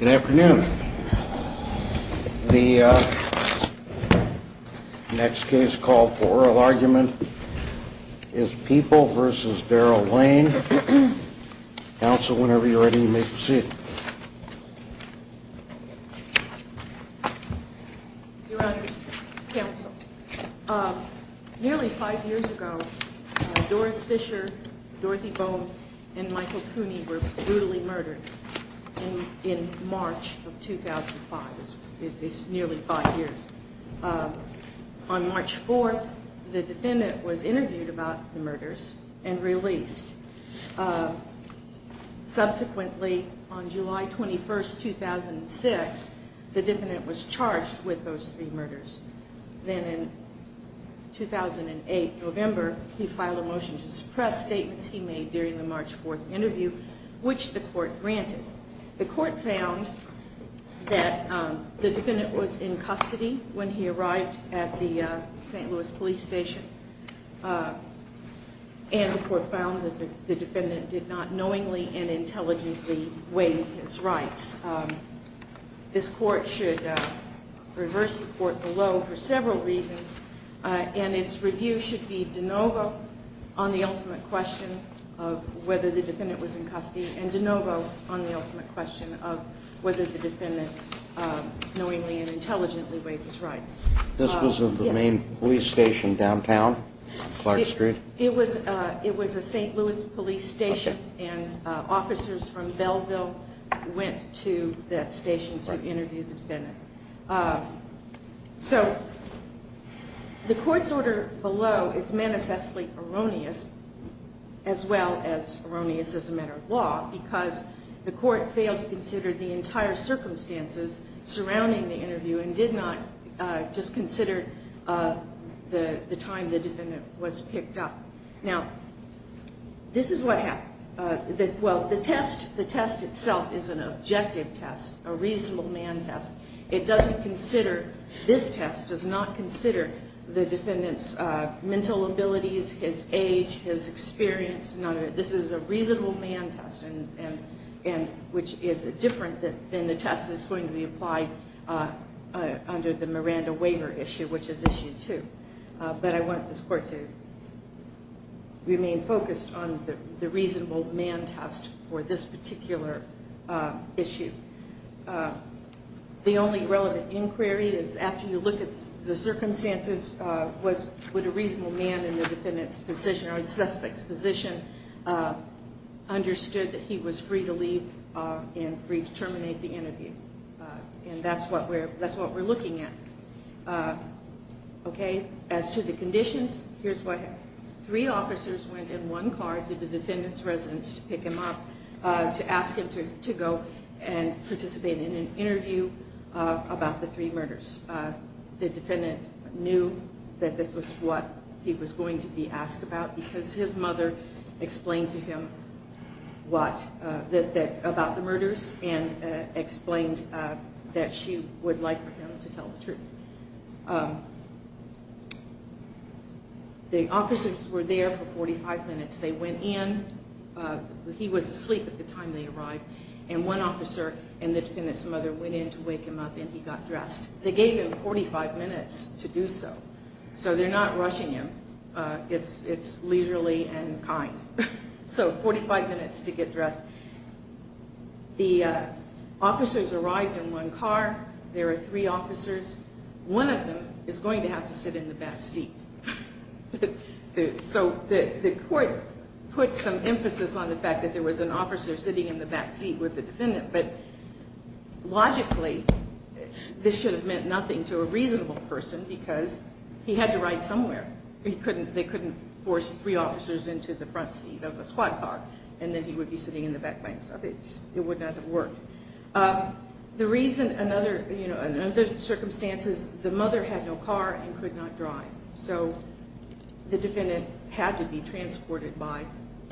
Good afternoon. The next case called for oral argument is People v. Daryl Lane. Council, whenever you're ready, you may proceed. Your Honor's counsel, nearly five years ago, Doris Fisher, Dorothy Bone, and Michael Cooney were brutally murdered in March of 2005. This is nearly five years. On March 4th, the defendant was interviewed about the murders and released. Subsequently, on July 21st, 2006, the defendant was charged with those three murders. Then in 2008, November, he filed a motion to suppress statements he made during the March 4th interview, which the court granted. The court found that the defendant was in custody when he arrived at the St. Louis police station. And the court found that the defendant did not knowingly and intelligently waive his rights. This court should reverse the court below for several reasons, and its review should be de novo on the ultimate question of whether the defendant was in custody and de novo on the ultimate question of whether the defendant knowingly and intelligently waived his rights. This was the main police station downtown, Clark Street? It was a St. Louis police station, and officers from Belleville went to that station to interview the defendant. So the court's order below is manifestly erroneous, as well as erroneous as a matter of law, because the court failed to consider the entire circumstances surrounding the interview and did not just consider the time the defendant was picked up. Now, this is what happened. Well, the test itself is an objective test, a reasonable man test. It doesn't consider, this test does not consider the defendant's mental abilities, his age, his experience, none of it. This is a reasonable man test, which is different than the test that's going to be applied under the Miranda waiver issue, which is issue two. But I want this court to remain focused on the reasonable man test for this particular issue. The only relevant inquiry is after you look at the circumstances, would a reasonable man in the defendant's position or the suspect's position understood that he was free to leave and free to terminate the interview? And that's what we're looking at. As to the conditions, here's what happened. Three officers went in one car to the defendant's residence to pick him up, to ask him to go and participate in an interview about the three murders. The defendant knew that this was what he was going to be asked about because his mother explained to him about the murders and explained that she would like for him to tell the truth. The officers were there for 45 minutes. They went in. He was asleep at the time they arrived. And one officer and the defendant's mother went in to wake him up and he got dressed. They gave him 45 minutes to do so. So they're not rushing him. It's leisurely and kind. So 45 minutes to get dressed. The officers arrived in one car. There were three officers. One of them is going to have to sit in the back seat. So the court put some emphasis on the fact that there was an officer sitting in the back seat with the defendant. But logically, this should have meant nothing to a reasonable person because he had to ride somewhere. They couldn't force three officers into the front seat of a squad car and then he would be sitting in the back by himself. It would not have worked. In other circumstances, the mother had no car and could not drive. So the defendant had to be transported by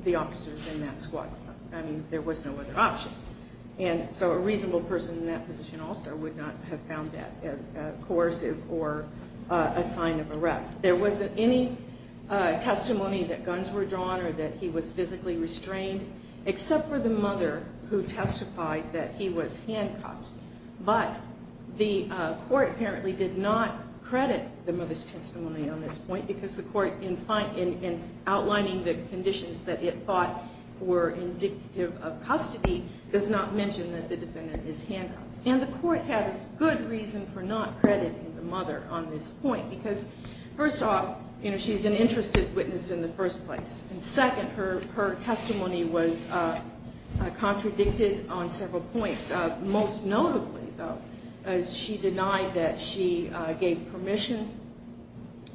the officers in that squad car. There was no other option. So a reasonable person in that position also would not have found that coercive or a sign of arrest. There wasn't any testimony that guns were drawn or that he was physically restrained except for the mother who testified that he was handcuffed. But the court apparently did not credit the mother's testimony on this point because the court, in outlining the conditions that it thought were indicative of custody, does not mention that the defendant is handcuffed. And the court had a good reason for not crediting the mother on this point because, first off, she's an interested witness in the first place. And second, her testimony was contradicted on several points. Most notably, though, she denied that she gave permission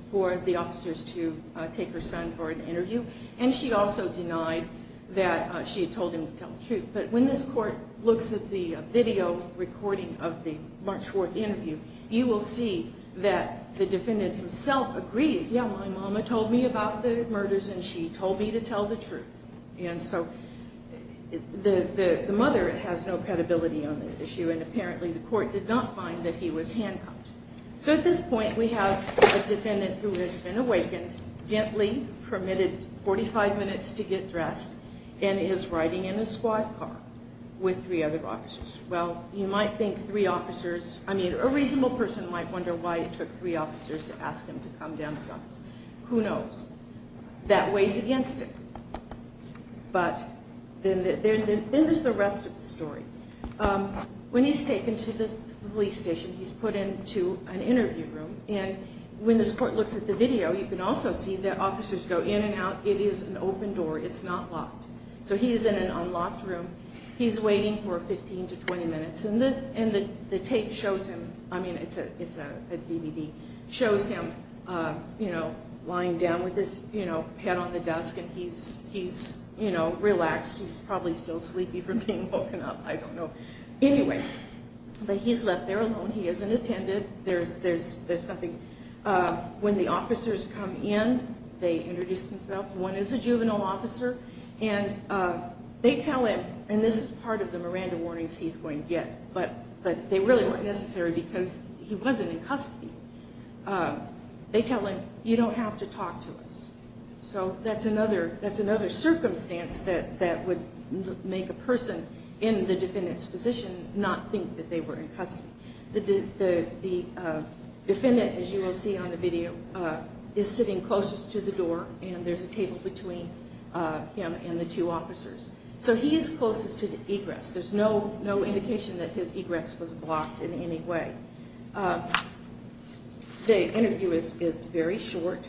for the officers to take her son for an interview. And she also denied that she had told him to tell the truth. But when this court looks at the video recording of the March 4th interview, you will see that the defendant himself agrees, yeah, my mama told me about the murders and she told me to tell the truth. And so the mother has no credibility on this issue and apparently the court did not find that he was handcuffed. So at this point we have a defendant who has been awakened, gently permitted 45 minutes to get dressed, and is riding in a squad car with three other officers. Well, you might think three officers, I mean, a reasonable person might wonder why it took three officers to ask him to come down to the office. Who knows? That weighs against him. But then there's the rest of the story. When he's taken to the police station, he's put into an interview room. And when this court looks at the video, you can also see the officers go in and out. It is an open door. It's not locked. So he is in an unlocked room. He's waiting for 15 to 20 minutes. And the tape shows him, I mean, it's a DVD, shows him lying down with his head on the desk. And he's relaxed. He's probably still sleepy from being woken up. I don't know. Anyway, but he's left there alone. He hasn't attended. There's nothing. When the officers come in, they introduce themselves. One is a juvenile officer. And they tell him, and this is part of the Miranda warnings he's going to get, but they really weren't necessary because he wasn't in custody. They tell him, you don't have to talk to us. So that's another circumstance that would make a person in the defendant's position not think that they were in custody. The defendant, as you will see on the video, is sitting closest to the door. And there's a table between him and the two officers. So he is closest to the egress. There's no indication that his egress was blocked in any way. The interview is very short,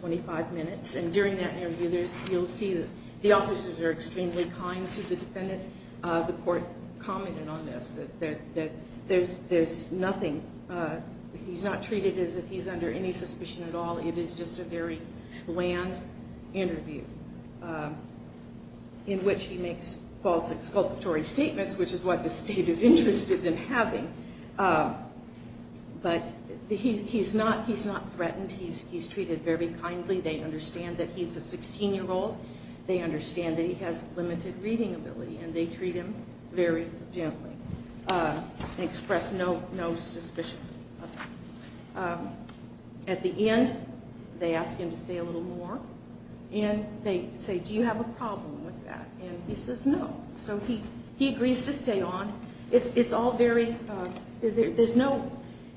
25 minutes. And during that interview, you'll see that the officers are extremely kind to the defendant. The court commented on this, that there's nothing. He's not treated as if he's under any suspicion at all. It is just a very bland interview in which he makes false exculpatory statements, which is what the state is interested in having. But he's not threatened. He's treated very kindly. They understand that he's a 16-year-old. They understand that he has limited reading ability. And they treat him very gently and express no suspicion of him. At the end, they ask him to stay a little more. And they say, do you have a problem with that? And he says no. So he agrees to stay on. It's all very, there's no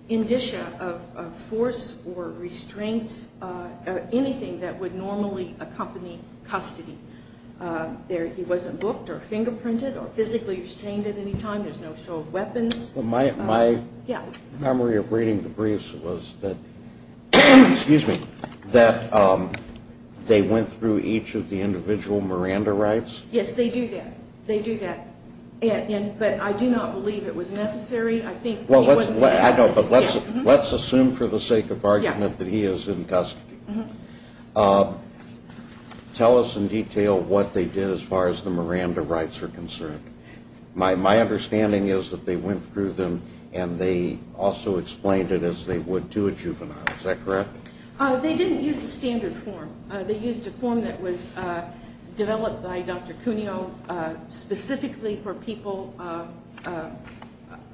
indicia of force or restraint or anything that would normally accompany custody. He wasn't booked or fingerprinted or physically restrained at any time. There's no show of weapons. My memory of reading the briefs was that they went through each of the individual Miranda rights. Yes, they do that. They do that. But I do not believe it was necessary. Let's assume for the sake of argument that he is in custody. Tell us in detail what they did as far as the Miranda rights are concerned. My understanding is that they went through them and they also explained it as they would to a juvenile. Is that correct? They didn't use the standard form. They used a form that was developed by Dr. Cuneo specifically for people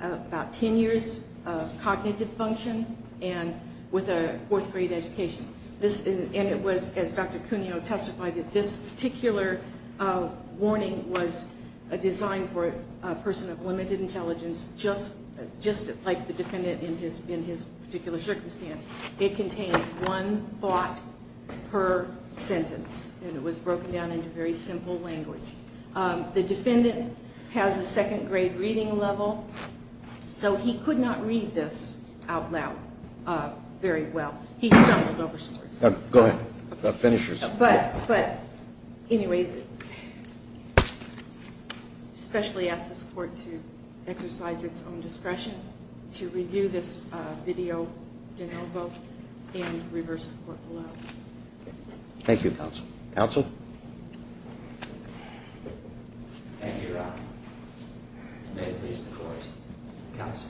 about 10 years of cognitive function and with a fourth grade education. And it was, as Dr. Cuneo testified, that this particular warning was designed for a person of limited intelligence just like the defendant in his particular circumstance. It contained one thought per sentence and it was broken down into very simple language. The defendant has a second grade reading level, so he could not read this out loud very well. He stumbled over some words. Go ahead. But anyway, I especially ask this Court to exercise its own discretion to review this video de novo and reverse the Court below. Thank you, Counsel. Counsel? Thank you, Your Honor. May it please the Court. Counsel?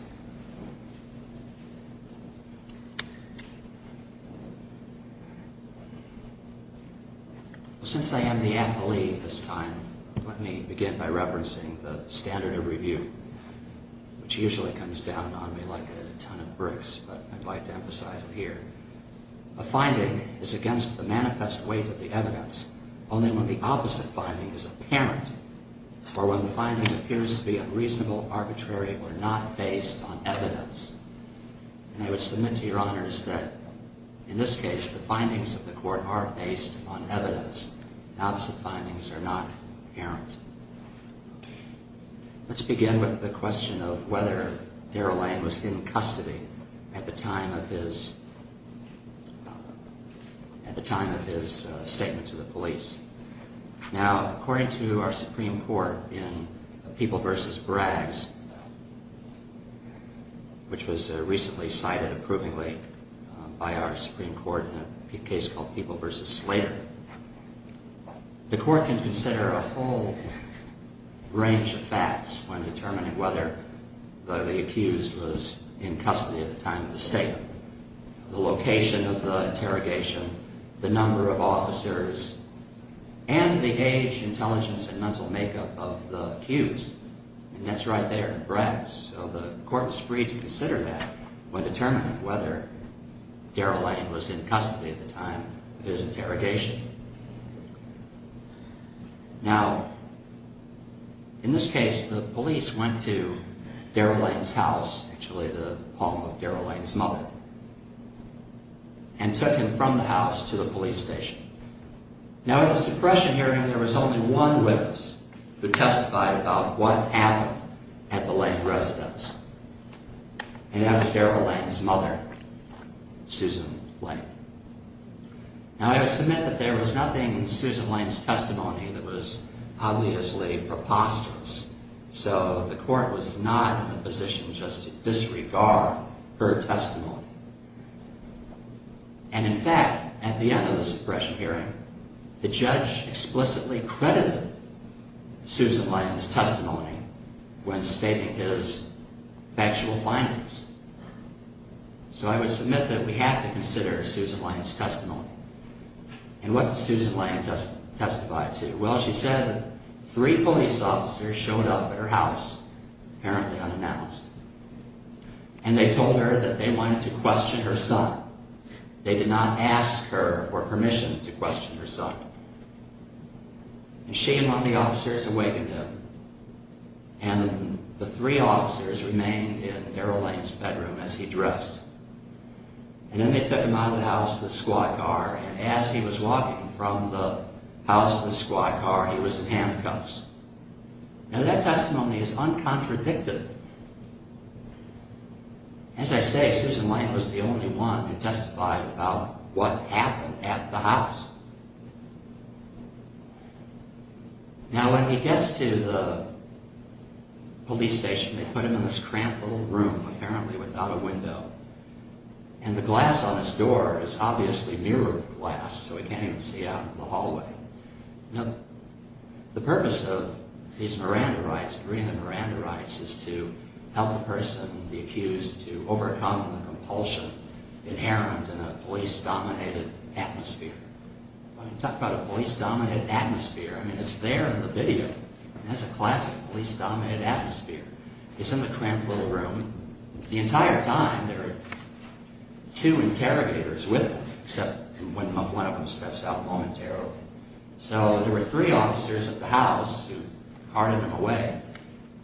Thank you, Your Honor. And I would submit to Your Honors that in this case, the findings of the Court are based on evidence. The opposite findings are not apparent. Let's begin with the question of whether Daryl Lane was in custody at the time of his statement to the police. Now, according to our Supreme Court in People v. Braggs, which was recently cited approvingly by our Supreme Court in a case called People v. Slater, the Court can consider a whole range of facts when determining whether the accused was in custody at the time of the statement. The location of the interrogation, the number of officers, and the age, intelligence, and mental makeup of the accused. And that's right there in Braggs. So the Court was free to consider that when determining whether Daryl Lane was in custody at the time of his interrogation. Now, in this case, the police went to Daryl Lane's house, actually the home of Daryl Lane's mother, and took him from the house to the police station. Now, in the suppression hearing, there was only one witness who testified about what happened at the Lane residence, and that was Daryl Lane's mother, Susan Lane. Now, I would submit that there was nothing in Susan Lane's testimony that was obviously preposterous, so the Court was not in a position just to disregard her testimony. And in fact, at the end of the suppression hearing, the judge explicitly credited Susan Lane's testimony when stating his factual findings. So I would submit that we have to consider Susan Lane's testimony. And what did Susan Lane testify to? Well, she said three police officers showed up at her house, apparently unannounced, and they told her that they wanted to question her son. They did not ask her for permission to question her son. And she and one of the officers awakened him, and the three officers remained in Daryl Lane's bedroom as he dressed. And then they took him out of the house to the squad car, and as he was walking from the house to the squad car, he was in handcuffs. Now, that testimony is uncontradicted. As I say, Susan Lane was the only one who testified about what happened at the house. Now, when he gets to the police station, they put him in this cramped little room, apparently without a window. And the glass on his door is obviously mirrored glass, so he can't even see out of the hallway. Now, the purpose of these Miranda rights, agreeing to Miranda rights, is to help the person, the accused, to overcome the compulsion inherent in a police-dominated atmosphere. When you talk about a police-dominated atmosphere, I mean, it's there in the video. That's a classic police-dominated atmosphere. He's in the cramped little room. The entire time, there are two interrogators with him, except when one of them steps out momentarily. So, there were three officers at the house who carted him away,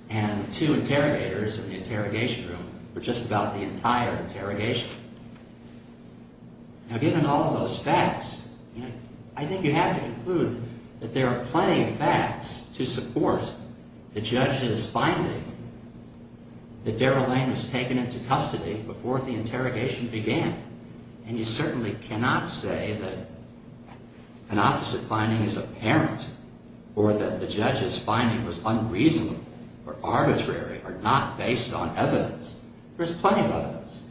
and two interrogators in the interrogation room for just about the entire interrogation. Now, given all of those facts, I think you have to conclude that there are plenty of facts to support the judge's finding that Daryl Lane was taken into custody before the interrogation began. And you certainly cannot say that an opposite finding is apparent, or that the judge's finding was unreasonable or arbitrary, or not based on evidence. There's plenty of evidence.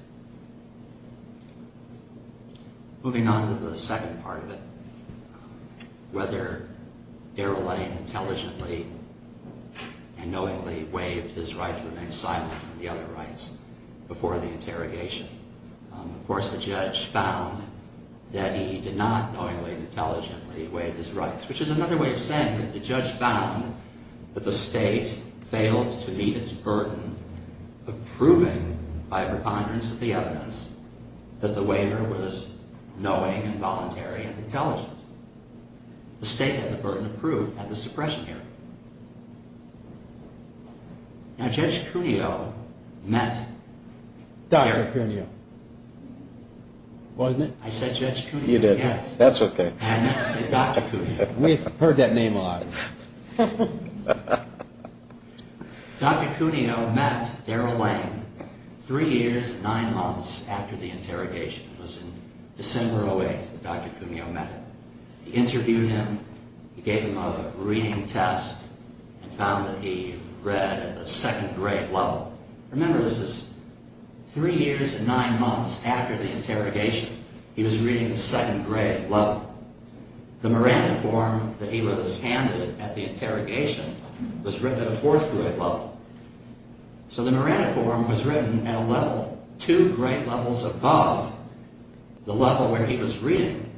Moving on to the second part of it, whether Daryl Lane intelligently and knowingly waived his right to remain silent on the other rights before the interrogation. Of course, the judge found that he did not knowingly and intelligently waive his rights. Which is another way of saying that the judge found that the state failed to meet its burden of proving, by repugnance of the evidence, that the waiver was knowing and voluntary and intelligent. The state had the burden of proof at the suppression hearing. Now, Judge Cuneo met Daryl Lane three years and nine months after the interrogation. It was in December of 2008 that Judge Cuneo met him. He interviewed him, he gave him a reading test, and found that he read at the second grade level. Remember, this is three years and nine months after the interrogation. He was reading the second grade level. The Miranda form that he was handed at the interrogation was written at a fourth grade level. So the Miranda form was written at a level two grade levels above the level where he was reading,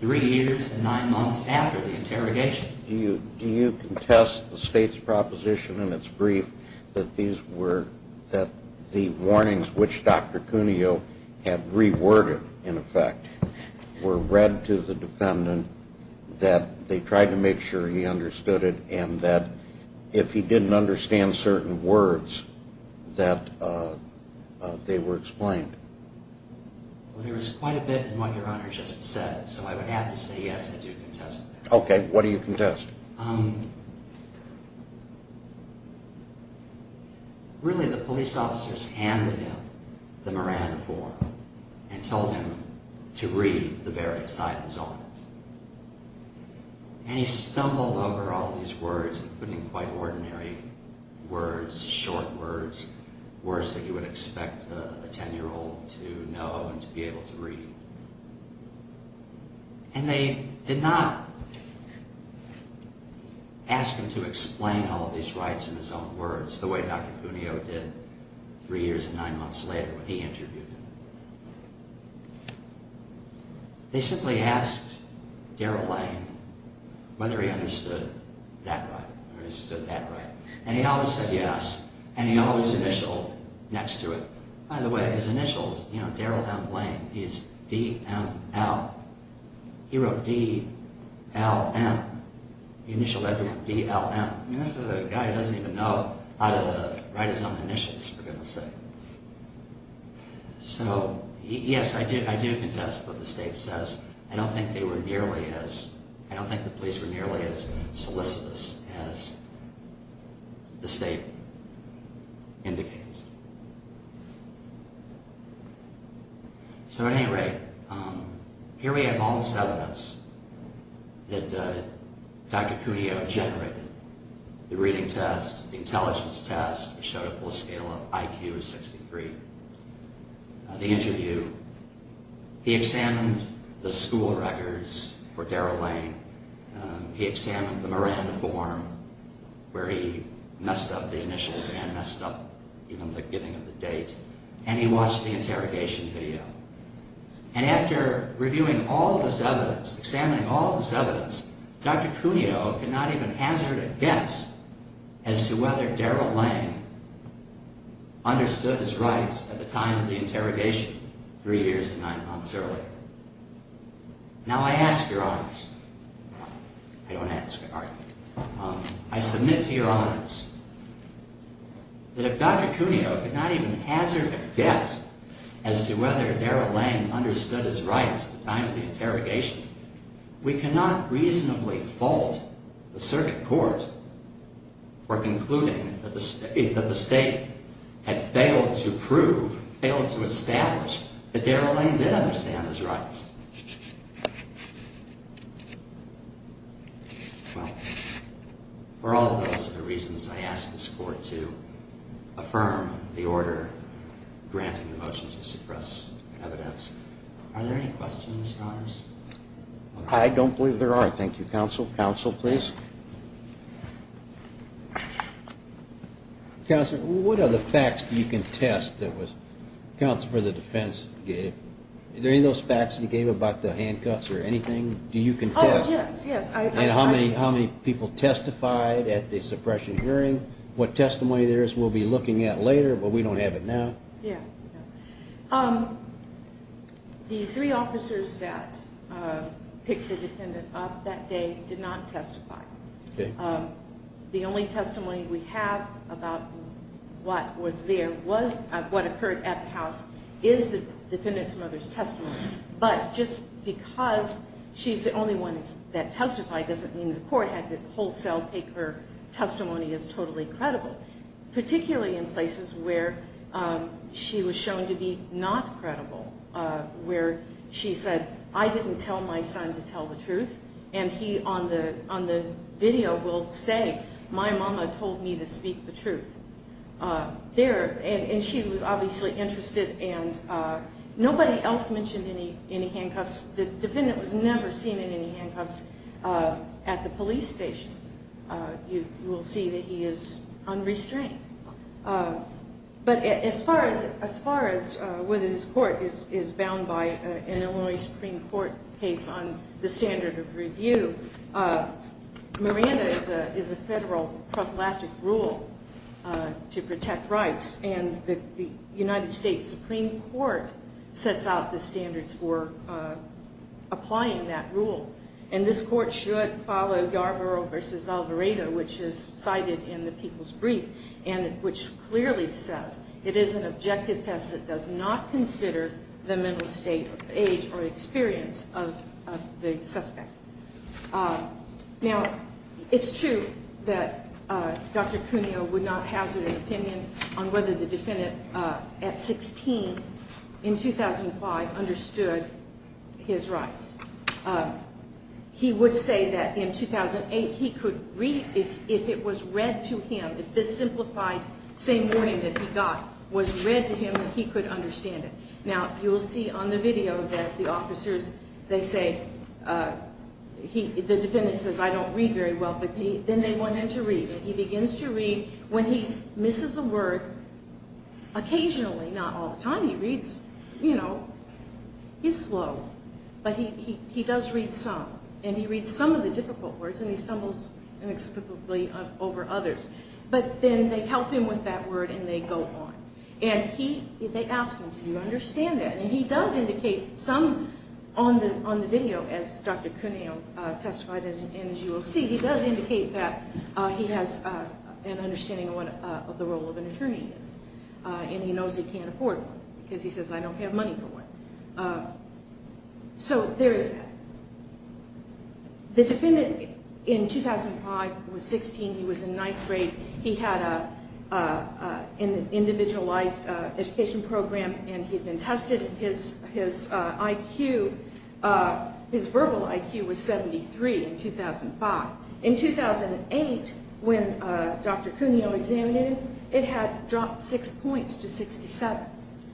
three years and nine months after the interrogation. Do you contest the state's proposition in its brief that the warnings which Dr. Cuneo had reworded, in effect, were read to the defendant, that they tried to make sure he understood it, and that if he didn't understand certain words, that they were explained? Well, there was quite a bit in what Your Honor just said, so I would have to say yes, I do contest that. Okay, what do you contest? Really, the police officers handed him the Miranda form and told him to read the various items on it. And he stumbled over all these words, including quite ordinary words, short words, words that you would expect a ten-year-old to know and to be able to read. And they did not ask him to explain all of these rights in his own words, the way Dr. Cuneo did three years and nine months later when he interviewed him. They simply asked Darrell Lane whether he understood that right, or understood that right. And he always said yes, and he always initialed next to it. By the way, his initials, you know, Darrell M. Lane, he's D-M-L. He wrote D-L-M, the initial letter D-L-M. I mean, this is a guy who doesn't even know how to write his own initials, for goodness sake. So, yes, I do contest what the state says. I don't think they were nearly as, I don't think the police were nearly as solicitous as the state indicates. So, at any rate, here we have all this evidence that Dr. Cuneo generated. The reading test, the intelligence test, showed a full scale of IQ of 63. The interview, he examined the school records for Darrell Lane. He examined the Miranda form where he messed up the initials and messed up even the giving of the date. And he watched the interrogation video. And after reviewing all this evidence, examining all this evidence, Dr. Cuneo could not even hazard a guess as to whether Darrell Lane understood his rights at the time of the interrogation, three years and nine months earlier. Now, I ask your honors, I don't ask, pardon me, I submit to your honors that if Dr. Cuneo could not even hazard a guess as to whether Darrell Lane understood his rights at the time of the interrogation, we cannot reasonably fault the circuit court for concluding that the state had failed to prove, failed to establish, that Darrell Lane did understand his rights. Well, for all of those other reasons, I ask this court to affirm the order granting the motion to suppress evidence. Are there any questions, your honors? I don't believe there are. Thank you, counsel. Counsel, please. Counsel, what other facts do you contest that was, counsel for the defense gave? Are there any of those facts that he gave about the handcuffs or anything? Do you contest? Oh, yes, yes. And how many people testified at the suppression hearing? What testimony there is we'll be looking at later, but we don't have it now. Yeah. The three officers that picked the defendant up that day did not testify. Okay. The only testimony we have about what was there was, what occurred at the house, is the defendant's mother's testimony. But just because she's the only one that testified doesn't mean the court had to wholesale take her testimony as totally credible. Particularly in places where she was shown to be not credible, where she said, I didn't tell my son to tell the truth. And he, on the video, will say, my mama told me to speak the truth. There, and she was obviously interested, and nobody else mentioned any handcuffs. The defendant was never seen in any handcuffs at the police station. You will see that he is unrestrained. But as far as whether this court is bound by an Illinois Supreme Court case on the standard of review, Miranda is a federal prophylactic rule to protect rights, and the United States Supreme Court sets out the standards for applying that rule. And this court should follow Yarborough v. Alvaredo, which is cited in the People's Brief, which clearly says it is an objective test that does not consider the mental state, age, or experience of the suspect. Now, it's true that Dr. Cuneo would not hazard an opinion on whether the defendant, at 16, in 2005, understood his rights. He would say that in 2008, he could read, if it was read to him, if this simplified same warning that he got was read to him, that he could understand it. Now, you will see on the video that the officers, they say, the defendant says, I don't read very well, but then they want him to read. And he begins to read. When he misses a word, occasionally, not all the time, he reads, you know, he's slow. But he does read some, and he reads some of the difficult words, and he stumbles inexplicably over others. But then they help him with that word, and they go on. And they ask him, do you understand that? And he does indicate some on the video, as Dr. Cuneo testified, and as you will see, he does indicate that he has an understanding of what the role of an attorney is. And he knows he can't afford one, because he says, I don't have money for one. So, there is that. The defendant, in 2005, was 16, he was in ninth grade, he had an individualized education program, and he had been tested, and his IQ, his verbal IQ was 73 in 2005. In 2008, when Dr. Cuneo examined him, it had dropped six points to 67.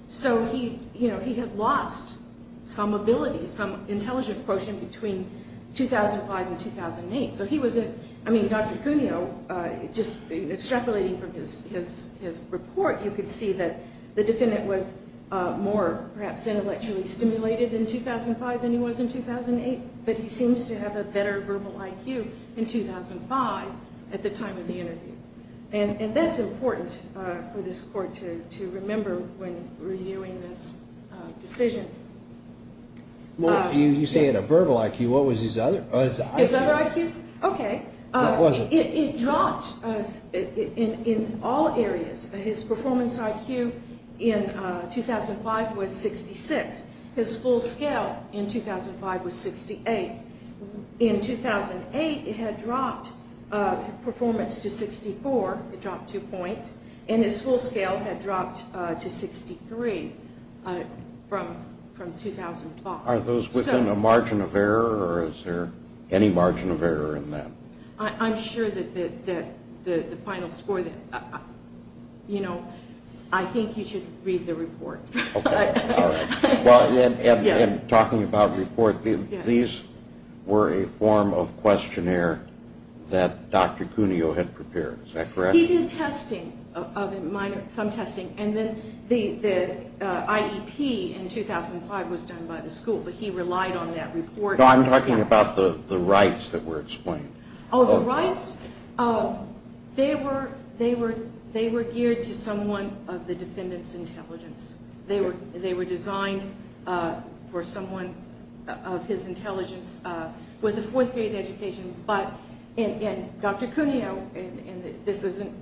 So he, you know, he had lost some ability, some intelligent quotient between 2005 and 2008. So he was, I mean, Dr. Cuneo, just extrapolating from his report, you could see that the defendant was more, perhaps, intellectually stimulated in 2005 than he was in 2008. But he seems to have a better verbal IQ in 2005, at the time of the interview. And that's important for this court to remember when reviewing this decision. Well, you say a verbal IQ, what was his other IQ? His other IQs? Okay. What was it? It dropped in all areas. His performance IQ in 2005 was 66, his full scale in 2005 was 68. In 2008, it had dropped performance to 64, it dropped two points, and his full scale had dropped to 63 from 2005. Are those within a margin of error, or is there any margin of error in that? I'm sure that the final score, you know, I think you should read the report. Okay, all right. And talking about report, these were a form of questionnaire that Dr. Cuneo had prepared, is that correct? He did testing, some testing, and then the IEP in 2005 was done by the school, but he relied on that report. No, I'm talking about the rights that were explained. Oh, the rights, they were geared to someone of the defendant's intelligence. They were designed for someone of his intelligence with a fourth grade education, but Dr. Cuneo, and this isn't,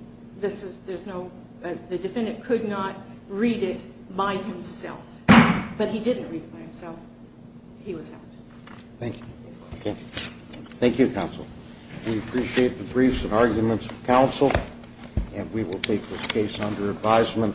this is, there's no, the defendant could not read it by himself, but he didn't read it by himself, he was helped. Thank you. Thank you, counsel. We appreciate the briefs and arguments of counsel, and we will take this case under advisement.